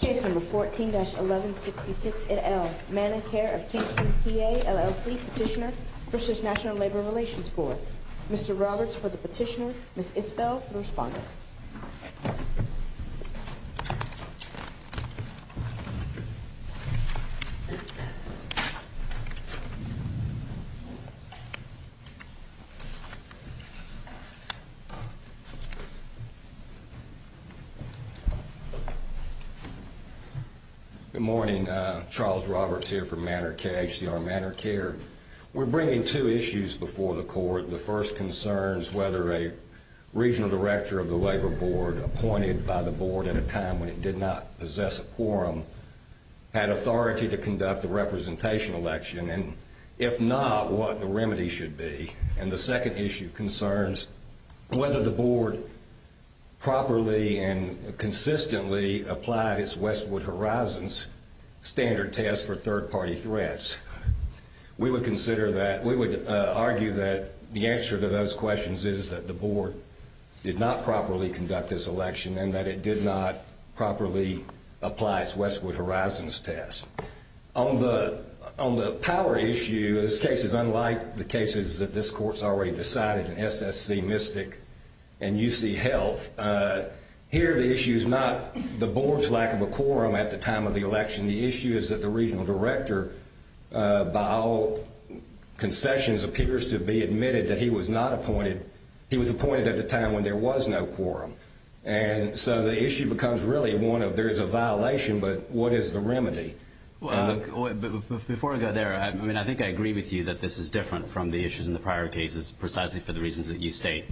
Case number 14-1166-8L, ManorCare of Kingston PA, LLC Petitioner v. National Labor Relations Board Mr. Roberts for the petitioner, Ms. Isbell for the respondent Good morning, Charles Roberts here for ManorCare, HCR ManorCare. We're bringing two issues before the court. The first concerns whether a regional director of the labor board appointed by the board at a time when it did not possess a quorum had authority to conduct a representation election, and if not, what the remedy should be. And the second issue concerns whether the board properly and consistently applied its Westwood Horizons standard test for third-party threats. We would argue that the answer to those questions is that the board did not properly conduct this election and that it did not properly apply its Westwood Horizons test. On the power issue, this case is unlike the cases that this court has already decided in SSC, Mystic, and UC Health. Here the issue is not the board's lack of a quorum at the time of the election. The issue is that the regional director, by all concessions, appears to have been admitted that he was appointed at a time when there was no quorum. And so the issue becomes really one of there's a violation, but what is the remedy? Before I go there, I mean, I think I agree with you that this is different from the issues in the prior cases precisely for the reasons that you state.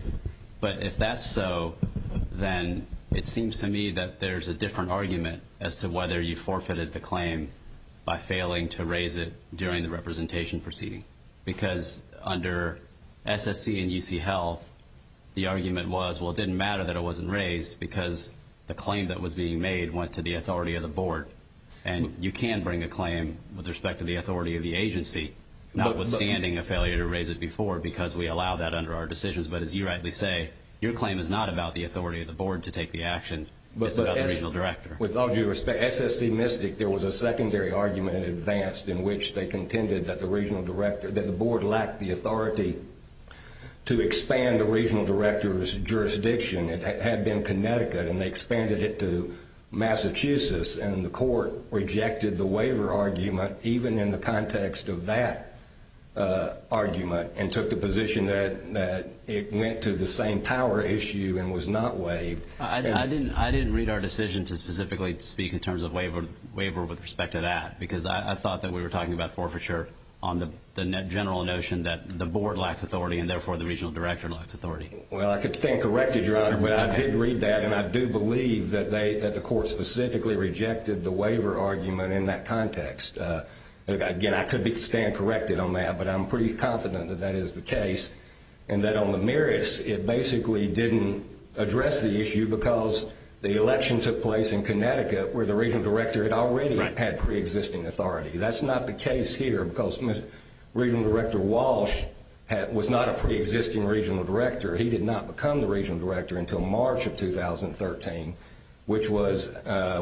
But if that's so, then it seems to me that there's a different argument as to whether you forfeited the claim by failing to raise it during the representation proceeding. Because under SSC and UC Health, the argument was, well, it didn't matter that it wasn't raised because the claim that was being made went to the authority of the board. And you can bring a claim with respect to the authority of the agency, notwithstanding a failure to raise it before because we allow that under our decisions. But as you rightly say, your claim is not about the authority of the board to take the action. It's about the regional director. With all due respect, SSC Mystic, there was a secondary argument in advance in which they contended that the board lacked the authority to expand the regional director's jurisdiction. It had been Connecticut, and they expanded it to Massachusetts. And the court rejected the waiver argument even in the context of that argument and took the position that it went to the same power issue and was not waived. I didn't read our decision to specifically speak in terms of waiver with respect to that because I thought that we were talking about forfeiture on the general notion that the board lacks authority and therefore the regional director lacks authority. Well, I could stand corrected, Your Honor, but I did read that, and I do believe that the court specifically rejected the waiver argument in that context. Again, I could stand corrected on that, but I'm pretty confident that that is the case and that on the merits, it basically didn't address the issue because the election took place in Connecticut where the regional director had already had preexisting authority. That's not the case here because Regional Director Walsh was not a preexisting regional director. He did not become the regional director until March of 2013, which was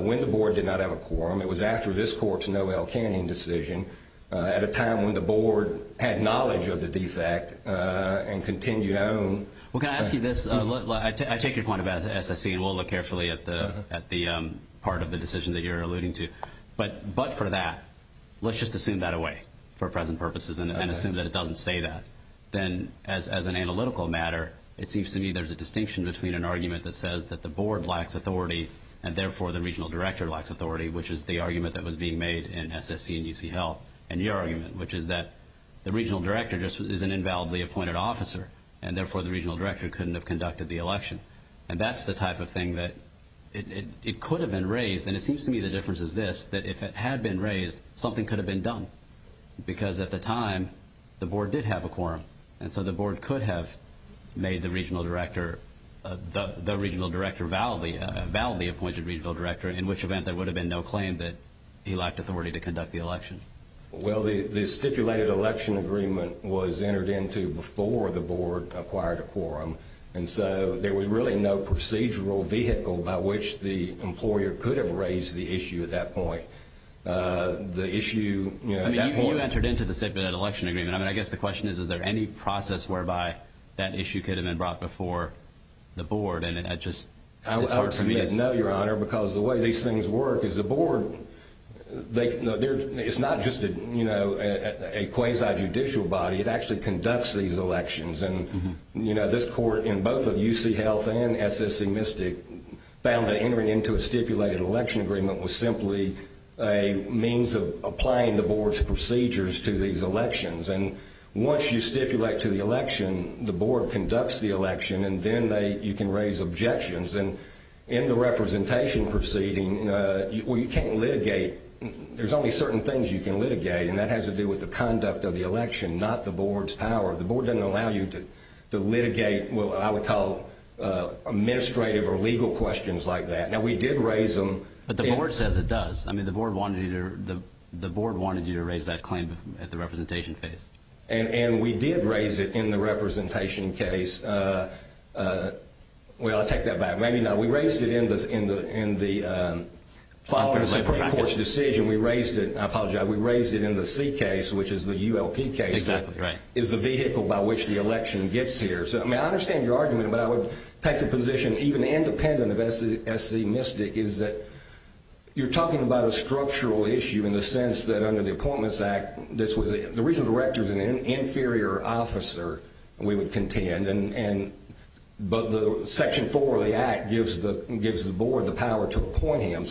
when the board did not have a quorum. It was after this court's Noelle Canyon decision at a time when the board had knowledge of the defect and continued on. Well, can I ask you this? I take your point about SSE, and we'll look carefully at the part of the decision that you're alluding to. But for that, let's just assume that away for present purposes and assume that it doesn't say that. Then, as an analytical matter, it seems to me there's a distinction between an argument that says that the board lacks authority and, therefore, the regional director lacks authority, which is the argument that was being made in SSE and UC Health and your argument, which is that the regional director is an invalidly appointed officer, and, therefore, the regional director couldn't have conducted the election. And that's the type of thing that it could have been raised. And it seems to me the difference is this, that if it had been raised, something could have been done. Because at the time, the board did have a quorum, and so the board could have made the regional director, the regional director validly appointed regional director, in which event there would have been no claim that he lacked authority to conduct the election. Well, the stipulated election agreement was entered into before the board acquired a quorum, and so there was really no procedural vehicle by which the employer could have raised the issue at that point. I mean, you entered into the stipulated election agreement. I mean, I guess the question is, is there any process whereby that issue could have been brought before the board? And it's hard for me to say. No, Your Honor, because the way these things work is the board, it's not just a quasi-judicial body. It actually conducts these elections. And, you know, this court in both of UC Health and SSC Mystic found that entering into a stipulated election agreement was simply a means of applying the board's procedures to these elections. And once you stipulate to the election, the board conducts the election, and then you can raise objections. And in the representation proceeding, well, you can't litigate. There's only certain things you can litigate, and that has to do with the conduct of the election, not the board's power. The board doesn't allow you to litigate what I would call administrative or legal questions like that. Now, we did raise them. But the board says it does. I mean, the board wanted you to raise that claim at the representation phase. And we did raise it in the representation case. Well, I'll take that back. Maybe not. We raised it in the following Supreme Court's decision. We raised it. I apologize. We raised it in the C case, which is the ULP case. Exactly, right. It's the vehicle by which the election gets here. So, I mean, I understand your argument, but I would take the position, even independent of S.C. Mystic, is that you're talking about a structural issue in the sense that under the Appointments Act, the regional director is an inferior officer, we would contend, but Section 4 of the Act gives the board the power to appoint him.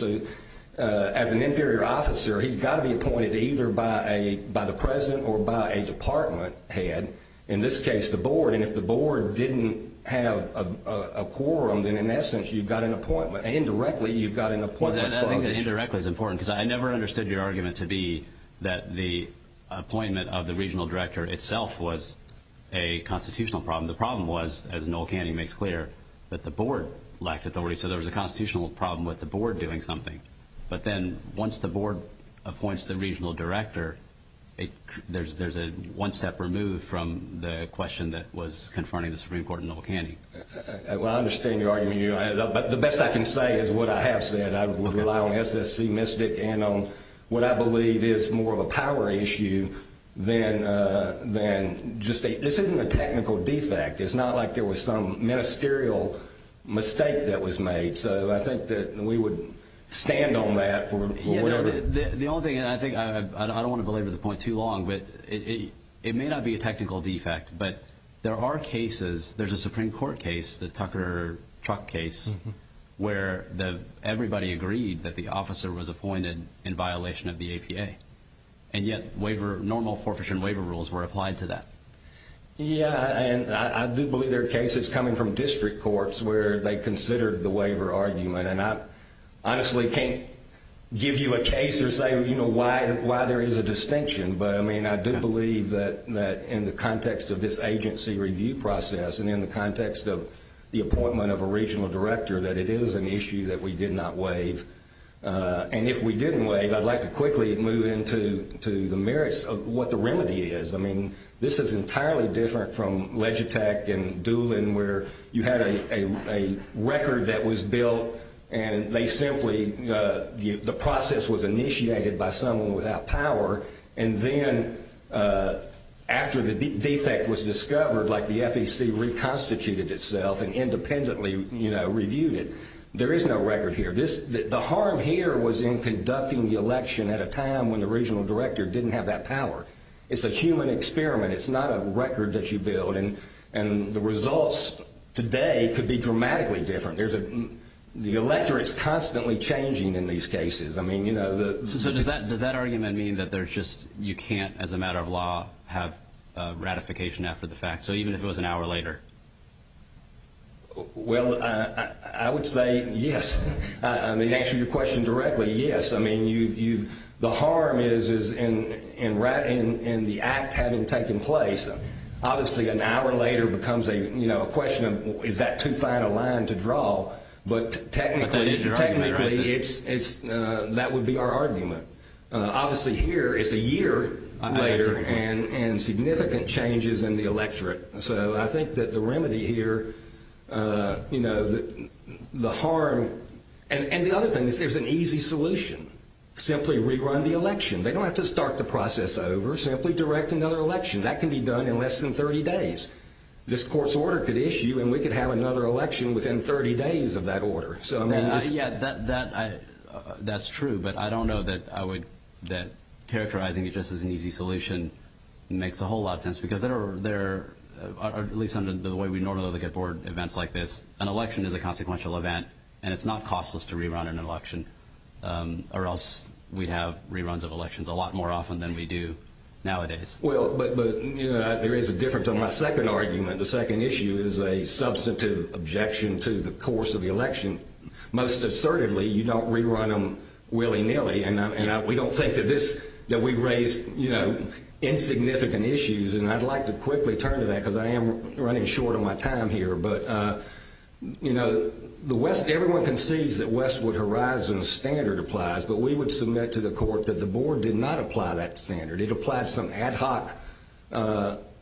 As an inferior officer, he's got to be appointed either by the president or by a department head, in this case the board. And if the board didn't have a quorum, then, in essence, you've got an appointment. Indirectly, you've got an appointment. Indirectly is important because I never understood your argument to be that the appointment of the regional director itself was a constitutional problem. The problem was, as Noel Canning makes clear, that the board lacked authority. So there was a constitutional problem with the board doing something. But then once the board appoints the regional director, there's a one step removed from the question that was confronting the Supreme Court and Noel Canning. Well, I understand your argument. But the best I can say is what I have said. I would rely on S.S.C. Mystic and on what I believe is more of a power issue than just a – this isn't a technical defect. It's not like there was some ministerial mistake that was made. So I think that we would stand on that for whatever. The only thing, and I think – I don't want to belabor the point too long, but it may not be a technical defect. But there are cases – there's a Supreme Court case, the Tucker-Truck case, where everybody agreed that the officer was appointed in violation of the APA. And yet waiver – normal forfeiture and waiver rules were applied to that. Yeah, and I do believe there are cases coming from district courts where they considered the waiver argument. And I honestly can't give you a case or say, you know, why there is a distinction. But, I mean, I do believe that in the context of this agency review process and in the context of the appointment of a regional director, that it is an issue that we did not waive. And if we didn't waive, I'd like to quickly move into the merits of what the remedy is. I mean, this is entirely different from Legitech and Doolin, where you had a record that was built and they simply – the process was initiated by someone without power. And then after the defect was discovered, like the FEC reconstituted itself and independently, you know, reviewed it. There is no record here. The harm here was in conducting the election at a time when the regional director didn't have that power. It's a human experiment. It's not a record that you build. And the results today could be dramatically different. There's a – the electorate is constantly changing in these cases. I mean, you know, the – So does that argument mean that there's just – you can't, as a matter of law, have ratification after the fact? So even if it was an hour later? Well, I would say yes. To answer your question directly, yes. I mean, you've – the harm is in the act having taken place. Obviously, an hour later becomes a, you know, a question of is that too fine a line to draw? But technically, it's – that would be our argument. Obviously, here it's a year later and significant changes in the electorate. So I think that the remedy here, you know, the harm – And the other thing is there's an easy solution. Simply rerun the election. They don't have to start the process over. Simply direct another election. That can be done in less than 30 days. This court's order could issue and we could have another election within 30 days of that order. So, I mean, this – Yeah, that's true. But I don't know that I would – that characterizing it just as an easy solution makes a whole lot of sense. Because there are – at least under the way we normally look at board events like this, an election is a consequential event and it's not costless to rerun an election or else we'd have reruns of elections a lot more often than we do nowadays. Well, but, you know, there is a difference on my second argument. The second issue is a substitute objection to the course of the election. Most assertively, you don't rerun them willy-nilly. And we don't think that this – that we raise, you know, insignificant issues. And I'd like to quickly turn to that because I am running short on my time here. But, you know, the West – everyone concedes that Westwood Horizon's standard applies, but we would submit to the court that the board did not apply that standard. It applied some ad hoc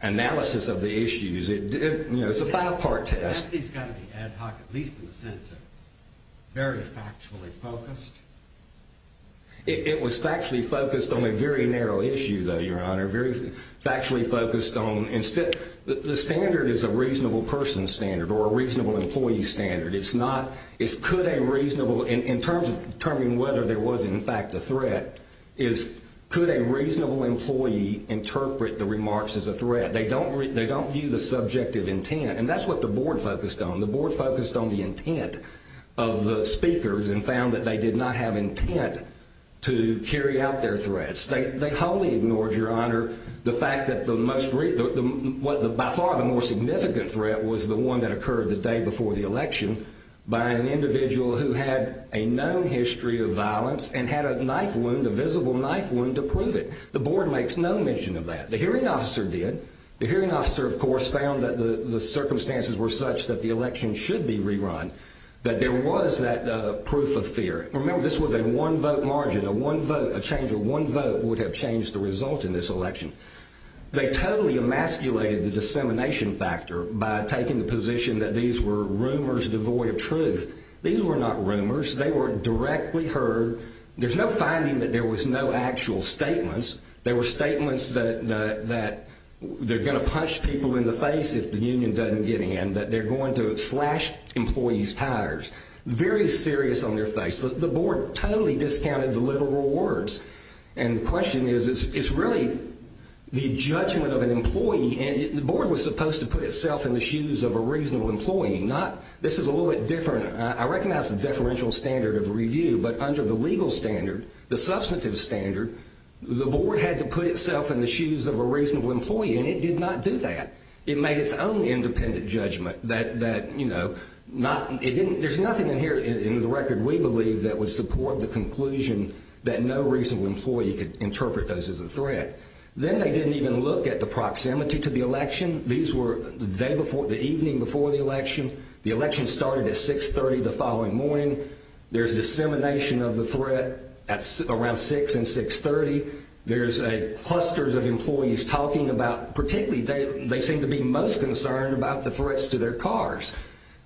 analysis of the issues. You know, it's a five-part test. It's got to be ad hoc, at least in the sense of very factually focused. It was factually focused on a very narrow issue, though, Your Honor. Very factually focused on – the standard is a reasonable person's standard or a reasonable employee's standard. It's not – it's could a reasonable – in terms of determining whether there was, in fact, a threat, is could a reasonable employee interpret the remarks as a threat. They don't view the subjective intent. And that's what the board focused on. The board focused on the intent of the speakers and found that they did not have intent to carry out their threats. They wholly ignored, Your Honor, the fact that the most – by far the most significant threat was the one that occurred the day before the election by an individual who had a known history of violence and had a knife wound, a visible knife wound to prove it. The board makes no mention of that. The hearing officer did. The hearing officer, of course, found that the circumstances were such that the election should be rerun, that there was that proof of fear. Remember, this was a one-vote margin. A one vote – a change of one vote would have changed the result in this election. They totally emasculated the dissemination factor by taking the position that these were rumors devoid of truth. These were not rumors. They were directly heard. There's no finding that there was no actual statements. There were statements that they're going to punch people in the face if the union doesn't get in, that they're going to slash employees' tires. Very serious on their face. The board totally discounted the literal words. And the question is, it's really the judgment of an employee. The board was supposed to put itself in the shoes of a reasonable employee, not – this is a little bit different. I recognize the deferential standard of review, but under the legal standard, the substantive standard, the board had to put itself in the shoes of a reasonable employee, It made its own independent judgment that, you know, there's nothing in here in the record, we believe, that would support the conclusion that no reasonable employee could interpret those as a threat. Then they didn't even look at the proximity to the election. These were the evening before the election. The election started at 6.30 the following morning. There's dissemination of the threat around 6 and 6.30. There's clusters of employees talking about – particularly, they seem to be most concerned about the threats to their cars.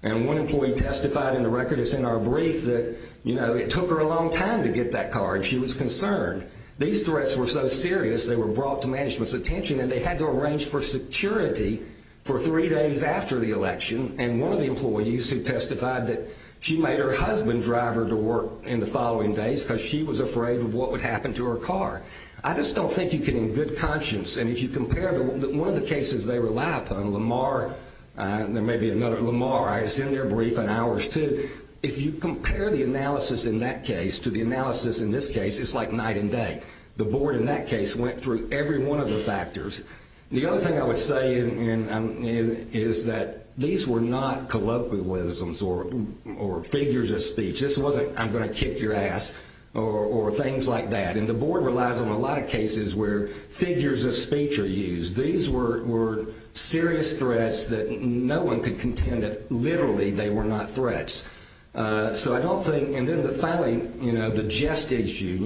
And one employee testified in the record that's in our brief that, you know, it took her a long time to get that car, and she was concerned. These threats were so serious, they were brought to management's attention, and they had to arrange for security for three days after the election. And one of the employees who testified that she made her husband drive her to work in the following days because she was afraid of what would happen to her car. I just don't think you can, in good conscience, and if you compare one of the cases they rely upon, Lamar – there may be another Lamar, I send their brief in hours too – if you compare the analysis in that case to the analysis in this case, it's like night and day. The board in that case went through every one of the factors. The other thing I would say is that these were not colloquialisms or figures of speech. This wasn't I'm going to kick your ass or things like that. And the board relies on a lot of cases where figures of speech are used. These were serious threats that no one could contend that literally they were not threats. So I don't think – and then finally, the jest issue.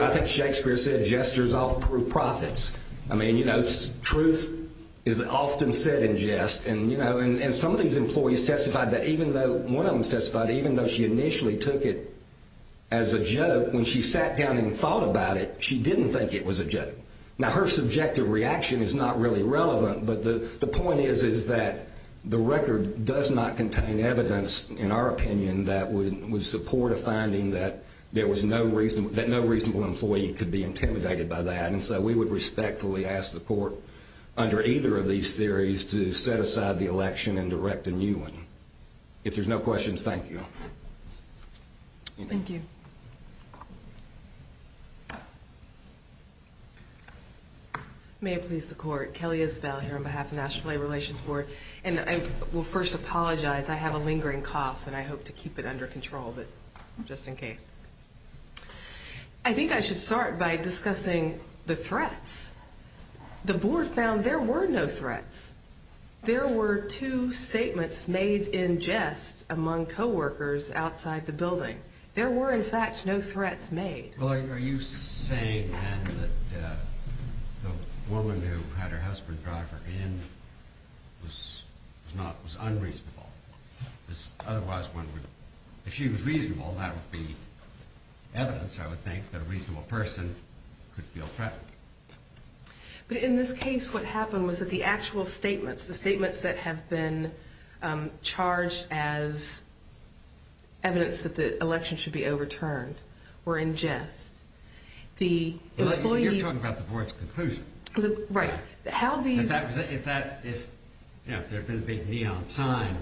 I think Shakespeare said jesters often prove prophets. Truth is often said in jest. And some of these employees testified that even though – one of them testified – even though she initially took it as a joke, when she sat down and thought about it, she didn't think it was a joke. Now, her subjective reaction is not really relevant, but the point is that the record does not contain evidence, in our opinion, that would support a finding that no reasonable employee could be intimidated by that. And so we would respectfully ask the court under either of these theories to set aside the election and direct a new one. If there's no questions, thank you. Thank you. May it please the court. Kelly Isbell here on behalf of the National Labor Relations Board. And I will first apologize. I have a lingering cough, and I hope to keep it under control, but just in case. I think I should start by discussing the threats. The board found there were no threats. There were two statements made in jest among coworkers outside the building. There were, in fact, no threats made. Well, are you saying, then, that the woman who had her husband drive her in was unreasonable? Otherwise, if she was reasonable, that would be evidence, I would think, that a reasonable person could feel threatened. But in this case, what happened was that the actual statements, the statements that have been charged as evidence that the election should be overturned were in jest. You're talking about the board's conclusion. Right. If there had been a big neon sign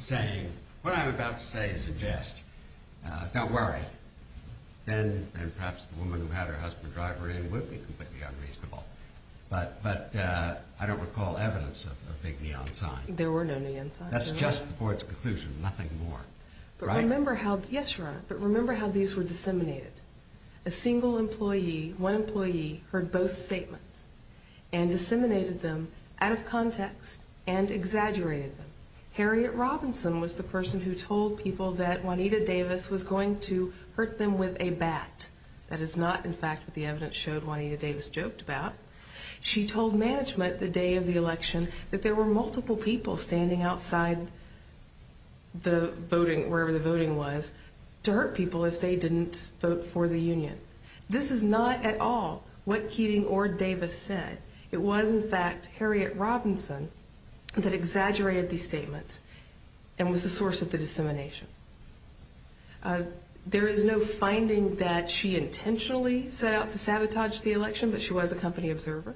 saying, What I'm about to say is in jest. Don't worry. Then perhaps the woman who had her husband drive her in would be completely unreasonable. But I don't recall evidence of a big neon sign. There were no neon signs. That's just the board's conclusion, nothing more. Yes, Your Honor, but remember how these were disseminated. A single employee, one employee, heard both statements and disseminated them out of context and exaggerated them. Harriet Robinson was the person who told people that Juanita Davis was going to hurt them with a bat. That is not, in fact, what the evidence showed Juanita Davis joked about. She told management the day of the election that there were multiple people standing outside the voting, wherever the voting was, to hurt people if they didn't vote for the union. This is not at all what Keating or Davis said. It was, in fact, Harriet Robinson that exaggerated these statements and was the source of the dissemination. There is no finding that she intentionally set out to sabotage the election, but she was a company observer.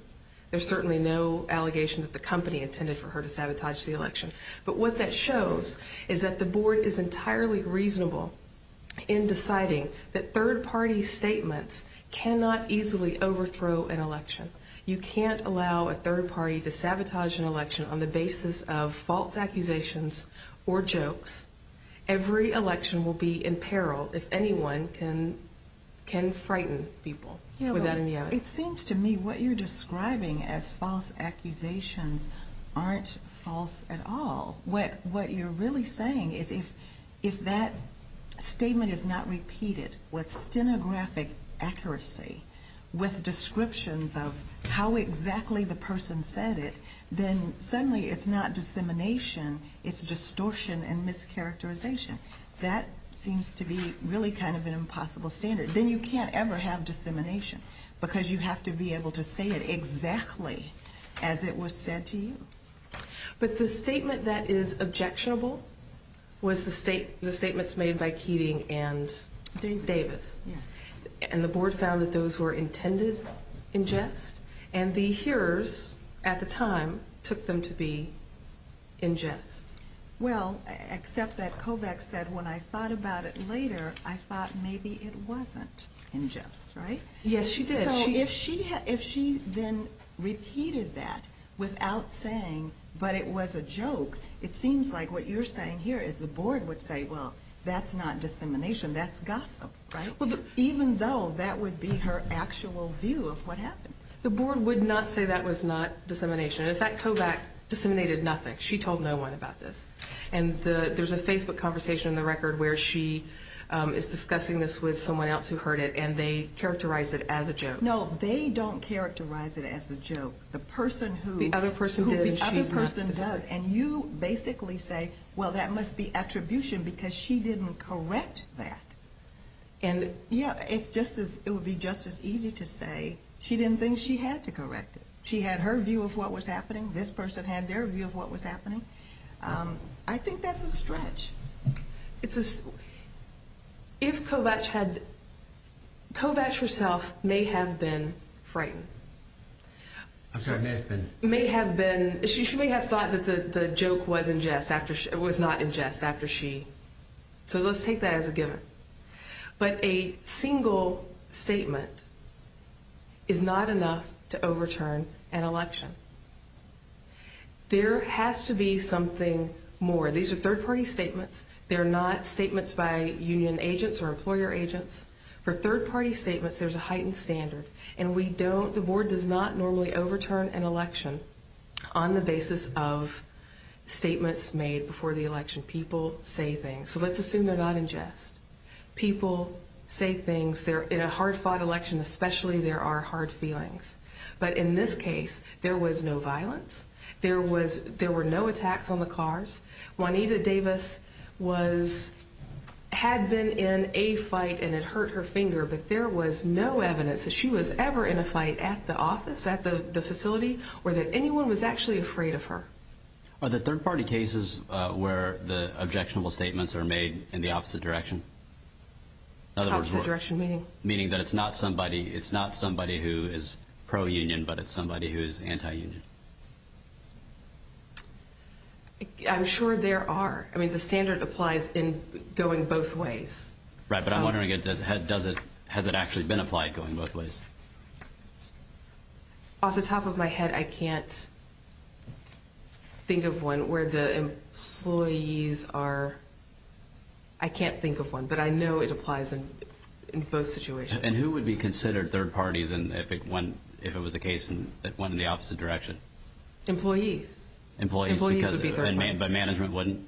There's certainly no allegation that the company intended for her to sabotage the election. But what that shows is that the board is entirely reasonable in deciding that third-party statements cannot easily overthrow an election. You can't allow a third party to sabotage an election on the basis of false accusations or jokes. Every election will be in peril if anyone can frighten people with that in the outing. It seems to me what you're describing as false accusations aren't false at all. What you're really saying is if that statement is not repeated with stenographic accuracy, with descriptions of how exactly the person said it, then suddenly it's not dissemination, it's distortion and mischaracterization. That seems to be really kind of an impossible standard. Then you can't ever have dissemination because you have to be able to say it exactly as it was said to you. But the statement that is objectionable was the statements made by Keating and Davis. The board found that those were intended in jest, and the hearers at the time took them to be in jest. Well, except that Kovacs said, when I thought about it later, I thought maybe it wasn't in jest, right? Yes, she did. If she then repeated that without saying, but it was a joke, it seems like what you're saying here is the board would say, well, that's not dissemination, that's gossip, right? Even though that would be her actual view of what happened. The board would not say that was not dissemination. In fact, Kovacs disseminated nothing. She told no one about this. There's a Facebook conversation in the record where she is discussing this with someone else who heard it, and they characterized it as a joke. No, they don't characterize it as a joke. The other person did, and she did not. And you basically say, well, that must be attribution because she didn't correct that. And, yeah, it would be just as easy to say she didn't think she had to correct it. She had her view of what was happening. This person had their view of what was happening. I think that's a stretch. If Kovacs had, Kovacs herself may have been frightened. I'm sorry, may have been. She may have thought that the joke was not in jest after she. So let's take that as a given. But a single statement is not enough to overturn an election. There has to be something more. These are third-party statements. They're not statements by union agents or employer agents. For third-party statements, there's a heightened standard. And we don't, the board does not normally overturn an election on the basis of statements made before the election. People say things. So let's assume they're not in jest. People say things. In a hard-fought election, especially, there are hard feelings. But in this case, there was no violence. There were no attacks on the cars. Juanita Davis was, had been in a fight and it hurt her finger. But there was no evidence that she was ever in a fight at the office, at the facility, or that anyone was actually afraid of her. Are the third-party cases where the objectionable statements are made in the opposite direction? Opposite direction, meaning? Meaning that it's not somebody who is pro-union, but it's somebody who is anti-union. I'm sure there are. I mean, the standard applies in going both ways. Right, but I'm wondering, has it actually been applied going both ways? Off the top of my head, I can't think of one where the employees are, I can't think of one. But I know it applies in both situations. And who would be considered third parties if it was the case that it went in the opposite direction? Employees. Employees because management wouldn't?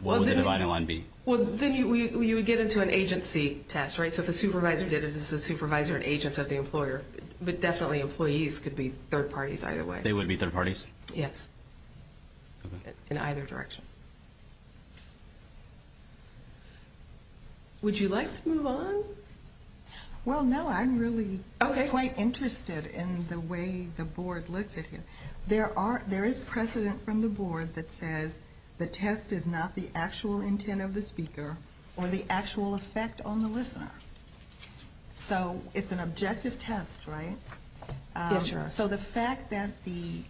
What would the dividing line be? Well, then you would get into an agency test, right? So if the supervisor did it, is the supervisor an agent of the employer? But definitely employees could be third parties either way. They would be third parties? Yes. In either direction. Would you like to move on? Well, no, I'm really quite interested in the way the board looks at it. There is precedent from the board that says the test is not the actual intent of the speaker or the actual effect on the listener. So it's an objective test, right? Yes, sir. So the fact that the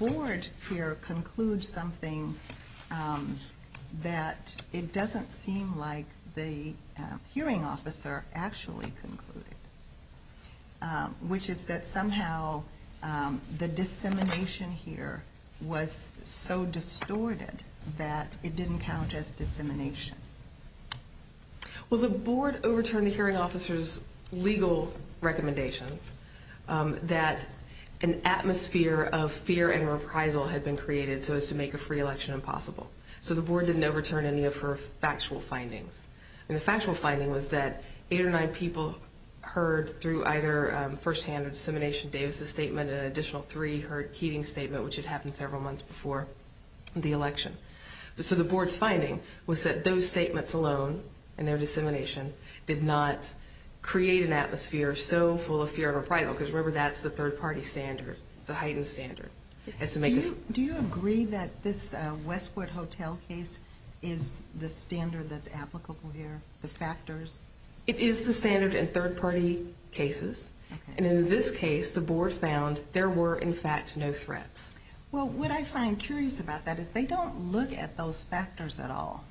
board here concludes something that it doesn't seem like the hearing officer actually concluded, which is that somehow the dissemination here was so distorted that it didn't count as dissemination. Well, the board overturned the hearing officer's legal recommendation that an atmosphere of fear and reprisal had been created so as to make a free election impossible. So the board didn't overturn any of her factual findings. And the factual finding was that eight or nine people heard through either firsthand or dissemination Davis's statement and an additional three heard Keating's statement, which had happened several months before the election. So the board's finding was that those statements alone and their dissemination did not create an atmosphere so full of fear and reprisal, because remember, that's the third-party standard. It's a heightened standard. Do you agree that this Westwood Hotel case is the standard that's applicable here, the factors? It is the standard in third-party cases. And in this case, the board found there were, in fact, no threats. Well, what I find curious about that is they don't look at those factors at all.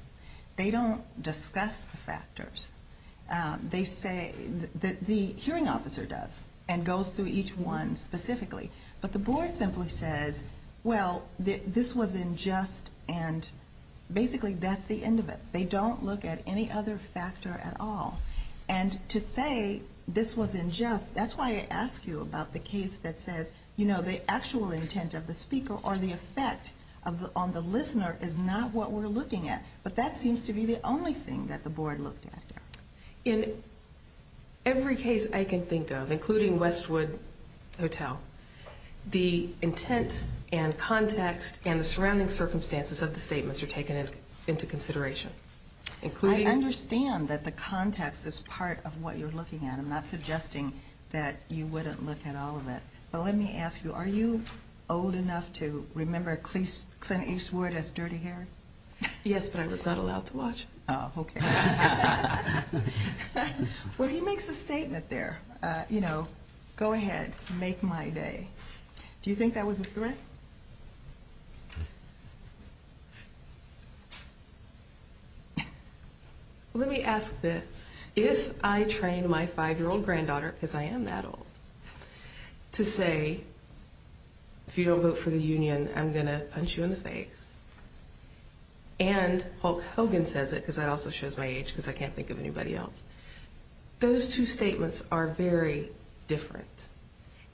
They don't discuss the factors. They say that the hearing officer does and goes through each one specifically. But the board simply says, well, this was unjust, and basically that's the end of it. They don't look at any other factor at all. And to say this was unjust, that's why I ask you about the case that says, you know, the actual intent of the speaker or the effect on the listener is not what we're looking at. But that seems to be the only thing that the board looked at. In every case I can think of, including Westwood Hotel, the intent and context and the surrounding circumstances of the statements are taken into consideration. I understand that the context is part of what you're looking at. I'm not suggesting that you wouldn't look at all of it. But let me ask you, are you old enough to remember Clint Eastwood as dirty hair? Yes, but I was not allowed to watch. Oh, okay. Well, he makes a statement there, you know, go ahead, make my day. Do you think that was a threat? Let me ask this. If I train my 5-year-old granddaughter, because I am that old, to say, if you don't vote for the union, I'm going to punch you in the face. And Hulk Hogan says it, because that also shows my age, because I can't think of anybody else. Those two statements are very different.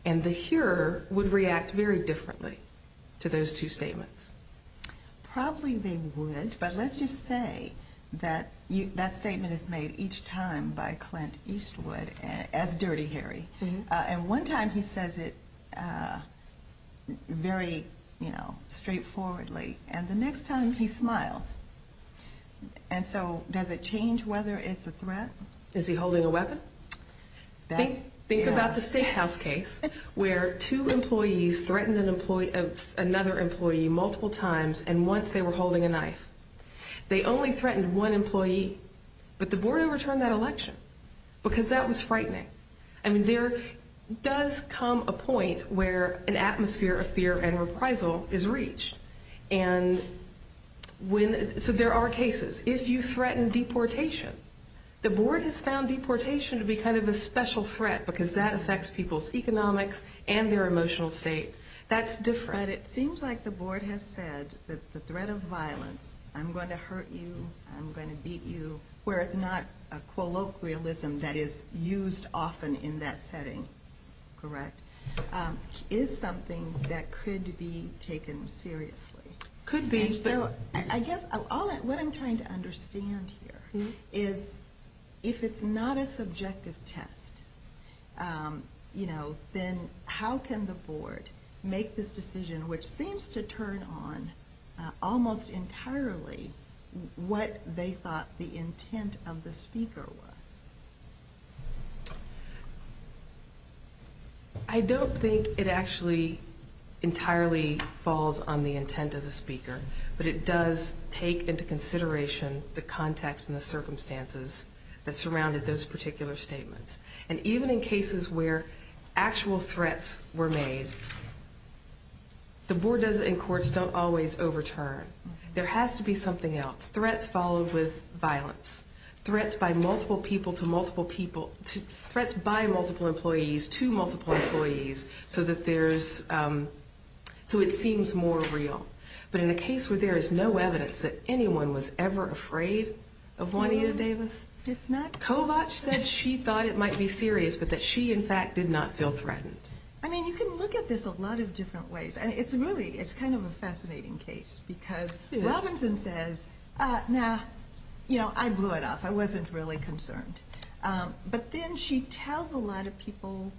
And the hearer would react very differently to those two statements. Probably they would, but let's just say that that statement is made each time by Clint Eastwood as dirty hairy. And one time he says it very, you know, straightforwardly. And the next time he smiles. And so does it change whether it's a threat? Is he holding a weapon? Think about the Statehouse case where two employees threatened another employee multiple times, and once they were holding a knife. They only threatened one employee, but the board overturned that election, because that was frightening. I mean, there does come a point where an atmosphere of fear and reprisal is reached. So there are cases. If you threaten deportation, the board has found deportation to be kind of a special threat, because that affects people's economics and their emotional state. That's different. But it seems like the board has said that the threat of violence, I'm going to hurt you, I'm going to beat you, where it's not a colloquialism that is used often in that setting, correct, is something that could be taken seriously. Could be. And so I guess what I'm trying to understand here is if it's not a subjective test, you know, then how can the board make this decision which seems to turn on almost entirely what they thought the intent of the speaker was? I don't think it actually entirely falls on the intent of the speaker, but it does take into consideration the context and the circumstances that surrounded those particular statements. And even in cases where actual threats were made, the board does in courts don't always overturn. There has to be something else. Threats followed with violence. Threats by multiple people to multiple people. Threats by multiple employees to multiple employees so that there's, so it seems more real. But in a case where there is no evidence that anyone was ever afraid of Juanita Davis, Kovach said she thought it might be serious, but that she, in fact, did not feel threatened. I mean, you can look at this a lot of different ways. And it's really, it's kind of a fascinating case because Robinson says, nah, you know, I blew it off. I wasn't really concerned. But then she tells a lot of people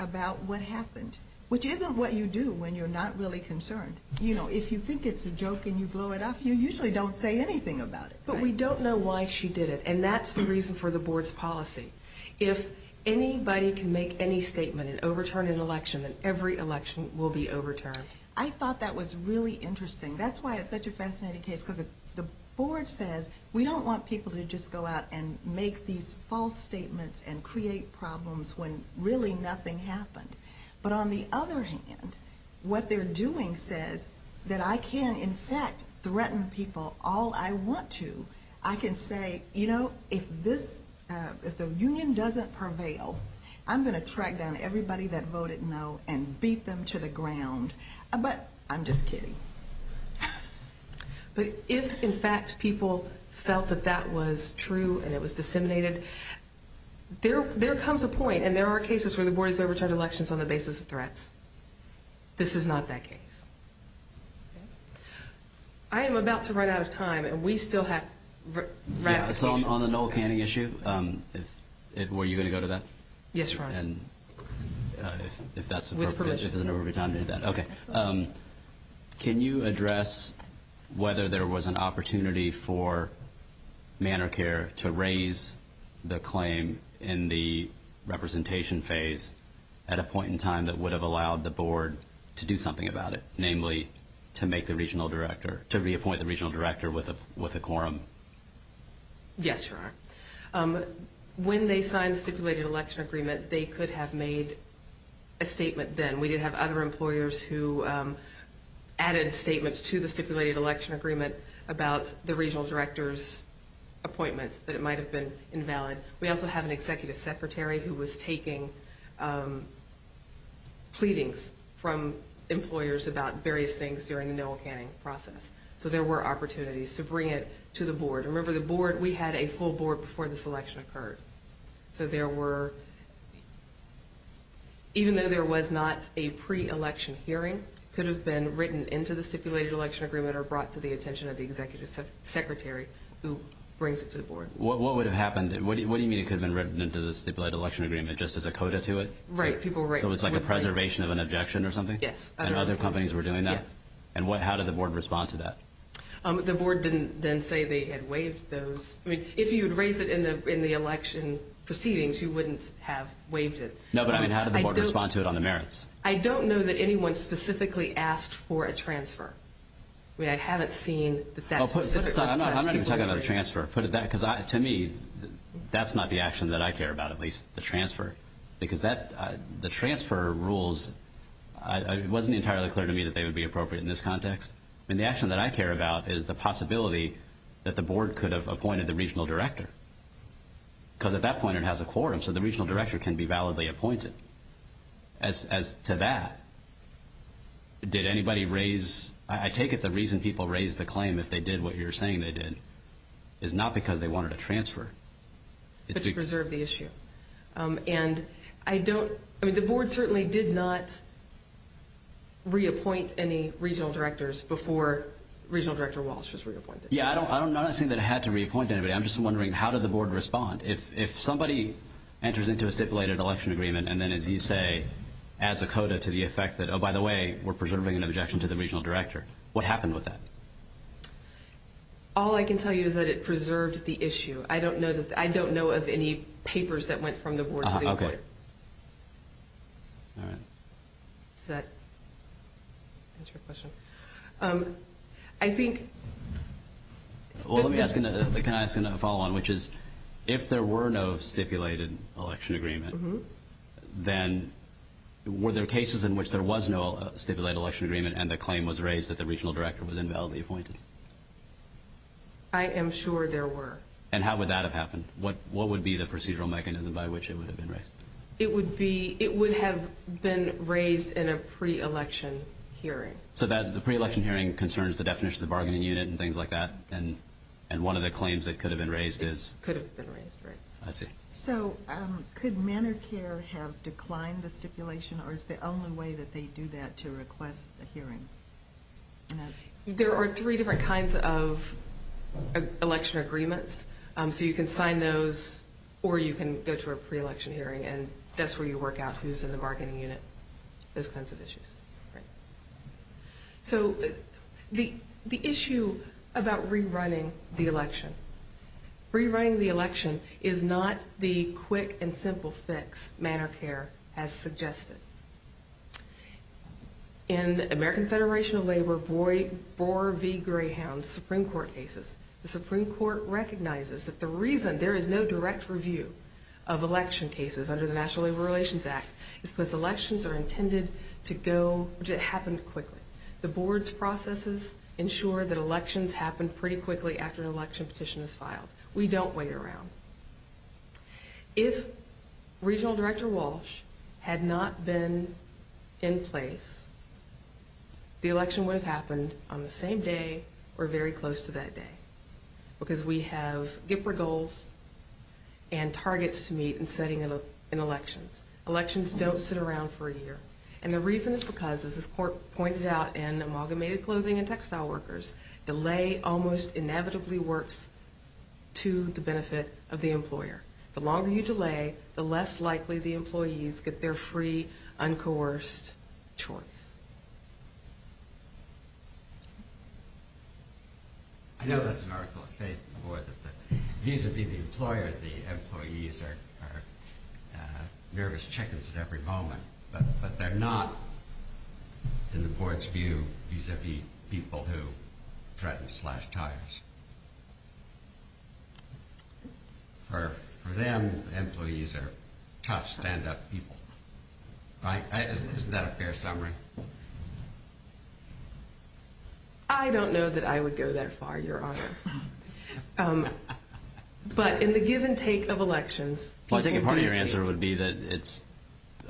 about what happened, which isn't what you do when you're not really concerned. You know, if you think it's a joke and you blow it off, you usually don't say anything about it. But we don't know why she did it, and that's the reason for the board's policy. If anybody can make any statement and overturn an election, then every election will be overturned. I thought that was really interesting. That's why it's such a fascinating case because the board says we don't want people to just go out and make these false statements and create problems when really nothing happened. But on the other hand, what they're doing says that I can, in fact, threaten people all I want to. I can say, you know, if this, if the union doesn't prevail, I'm going to track down everybody that voted no and beat them to the ground. But I'm just kidding. But if, in fact, people felt that that was true and it was disseminated, there comes a point, and there are cases where the board has overturned elections on the basis of threats. This is not that case. I am about to run out of time, and we still have ratification. So on the Noel Canning issue, were you going to go to that? Yes, Your Honor. If that's appropriate. With permission. Okay. Can you address whether there was an opportunity for ManorCare to raise the claim in the representation phase at a point in time that would have allowed the board to do something about it, namely to make the regional director, to reappoint the regional director with a quorum? Yes, Your Honor. When they signed the stipulated election agreement, they could have made a statement then. We did have other employers who added statements to the stipulated election agreement about the regional director's appointment, but it might have been invalid. We also have an executive secretary who was taking pleadings from employers about various things during the Noel Canning process. So there were opportunities to bring it to the board. Remember, the board, we had a full board before this election occurred. So there were, even though there was not a pre-election hearing, could have been written into the stipulated election agreement or brought to the attention of the executive secretary who brings it to the board. What would have happened? What do you mean it could have been written into the stipulated election agreement just as a coda to it? Right. So it's like a preservation of an objection or something? Yes. And other companies were doing that? Yes. And how did the board respond to that? The board didn't then say they had waived those. I mean, if you had raised it in the election proceedings, you wouldn't have waived it. No, but I mean, how did the board respond to it on the merits? I don't know that anyone specifically asked for a transfer. I mean, I haven't seen that that specific question was raised. I'm not even talking about a transfer. To me, that's not the action that I care about, at least, the transfer, because the transfer rules, it wasn't entirely clear to me that they would be appropriate in this context. I mean, the action that I care about is the possibility that the board could have appointed the regional director, because at that point it has a quorum, so the regional director can be validly appointed. As to that, did anybody raise – I take it the reason people raised the claim, if they did what you're saying they did, is not because they wanted a transfer. To preserve the issue. And I don't – I mean, the board certainly did not reappoint any regional directors before regional director Wallace was reappointed. Yeah, I'm not saying that it had to reappoint anybody. I'm just wondering, how did the board respond? If somebody enters into a stipulated election agreement and then, as you say, adds a coda to the effect that, oh, by the way, we're preserving an objection to the regional director, what happened with that? All I can tell you is that it preserved the issue. I don't know of any papers that went from the board to the employer. Okay. All right. Does that answer your question? I think – Well, let me ask – can I ask a follow-on, which is, if there were no stipulated election agreement, then were there cases in which there was no stipulated election agreement and the claim was raised that the regional director was invalidly appointed? I am sure there were. And how would that have happened? What would be the procedural mechanism by which it would have been raised? It would be – it would have been raised in a pre-election hearing. So the pre-election hearing concerns the definition of the bargaining unit and things like that, and one of the claims that could have been raised is? Could have been raised, right. I see. So could Medicare have declined the stipulation, or is the only way that they do that to request a hearing? There are three different kinds of election agreements. So you can sign those, or you can go to a pre-election hearing, and that's where you work out who's in the bargaining unit, those kinds of issues. All right. So the issue about rerunning the election. Rerunning the election is not the quick and simple fix Medicare has suggested. In the American Federation of Labor Boar v. Greyhound Supreme Court cases, the Supreme Court recognizes that the reason there is no direct review of election cases under the National Labor Relations Act is because elections are intended to go – to happen quickly. The board's processes ensure that elections happen pretty quickly after an election petition is filed. We don't wait around. If Regional Director Walsh had not been in place, the election would have happened on the same day or very close to that day because we have GPRA goals and targets to meet in setting in elections. Elections don't sit around for a year, and the reason is because, as this court pointed out in Amalgamated Clothing and Textile Workers, delay almost inevitably works to the benefit of the employer. The longer you delay, the less likely the employees get their free, uncoerced choice. I know that's an article of faith, but vis-a-vis the employer, the employees are nervous chickens at every moment, but they're not, in the board's view, vis-a-vis people who threaten to slash tires. For them, employees are tough, stand-up people. Is that a fair summary? I don't know that I would go that far, Your Honor. But in the give and take of elections, people do see it. My answer would be that,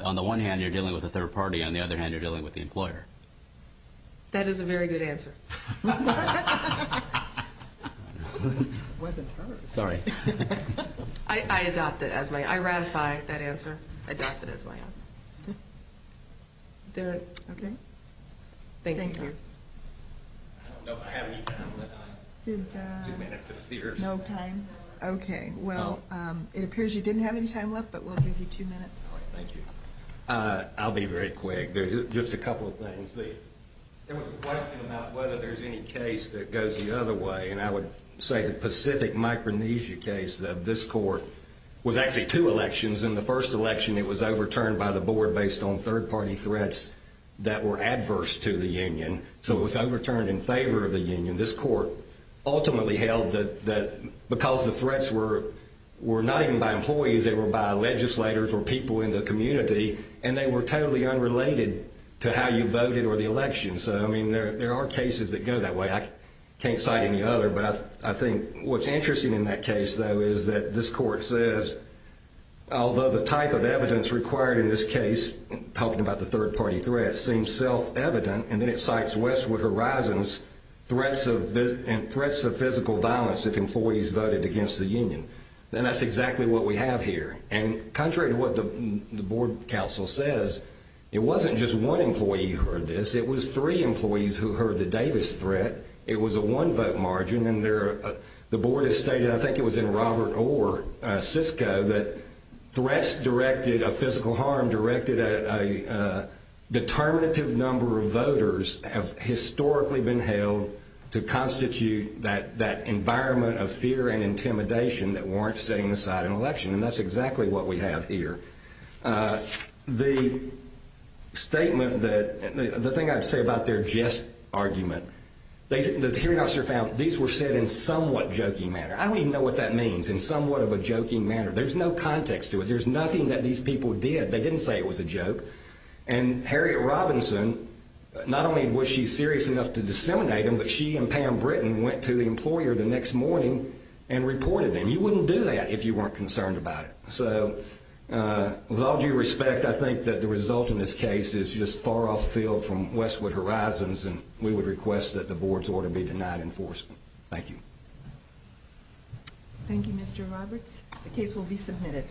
on the one hand, you're dealing with a third party, on the other hand, you're dealing with the employer. That is a very good answer. I adopt it as my answer. I ratify that answer. I adopt it as my answer. Thank you. I don't know if I have any time left, Your Honor. Two minutes, it appears. No time. Okay. Well, it appears you didn't have any time left, but we'll give you two minutes. Thank you. I'll be very quick. Just a couple of things. There was a question about whether there's any case that goes the other way, and I would say the Pacific Micronesia case of this court was actually two elections. In the first election, it was overturned by the board based on third party threats that were adverse to the union, so it was overturned in favor of the union. This court ultimately held that because the threats were not even by employees, they were by legislators or people in the community, and they were totally unrelated to how you voted or the election. So, I mean, there are cases that go that way. I can't cite any other, but I think what's interesting in that case, though, is that this court says, although the type of evidence required in this case, talking about the third party threats, seems self-evident, and then it cites Westwood Horizons threats of physical violence if employees voted against the union. And that's exactly what we have here. And contrary to what the board counsel says, it wasn't just one employee who heard this. It was three employees who heard the Davis threat. It was a one-vote margin, and the board has stated, I think it was in Robert Orr, Cisco, that threats directed of physical harm directed at a determinative number of voters have historically been held to constitute that environment of fear and intimidation that warrants setting aside an election. And that's exactly what we have here. The statement that the thing I'd say about their jest argument, the hearing officer found these were said in somewhat joking manner. I don't even know what that means, in somewhat of a joking manner. There's no context to it. There's nothing that these people did. They didn't say it was a joke. And Harriet Robinson, not only was she serious enough to disseminate them, but she and Pam Britton went to the employer the next morning and reported them. You wouldn't do that if you weren't concerned about it. So with all due respect, I think that the result in this case is just far off field from Westwood Horizons, and we would request that the board's order be denied enforcement. Thank you. Thank you, Mr. Roberts. The case will be submitted.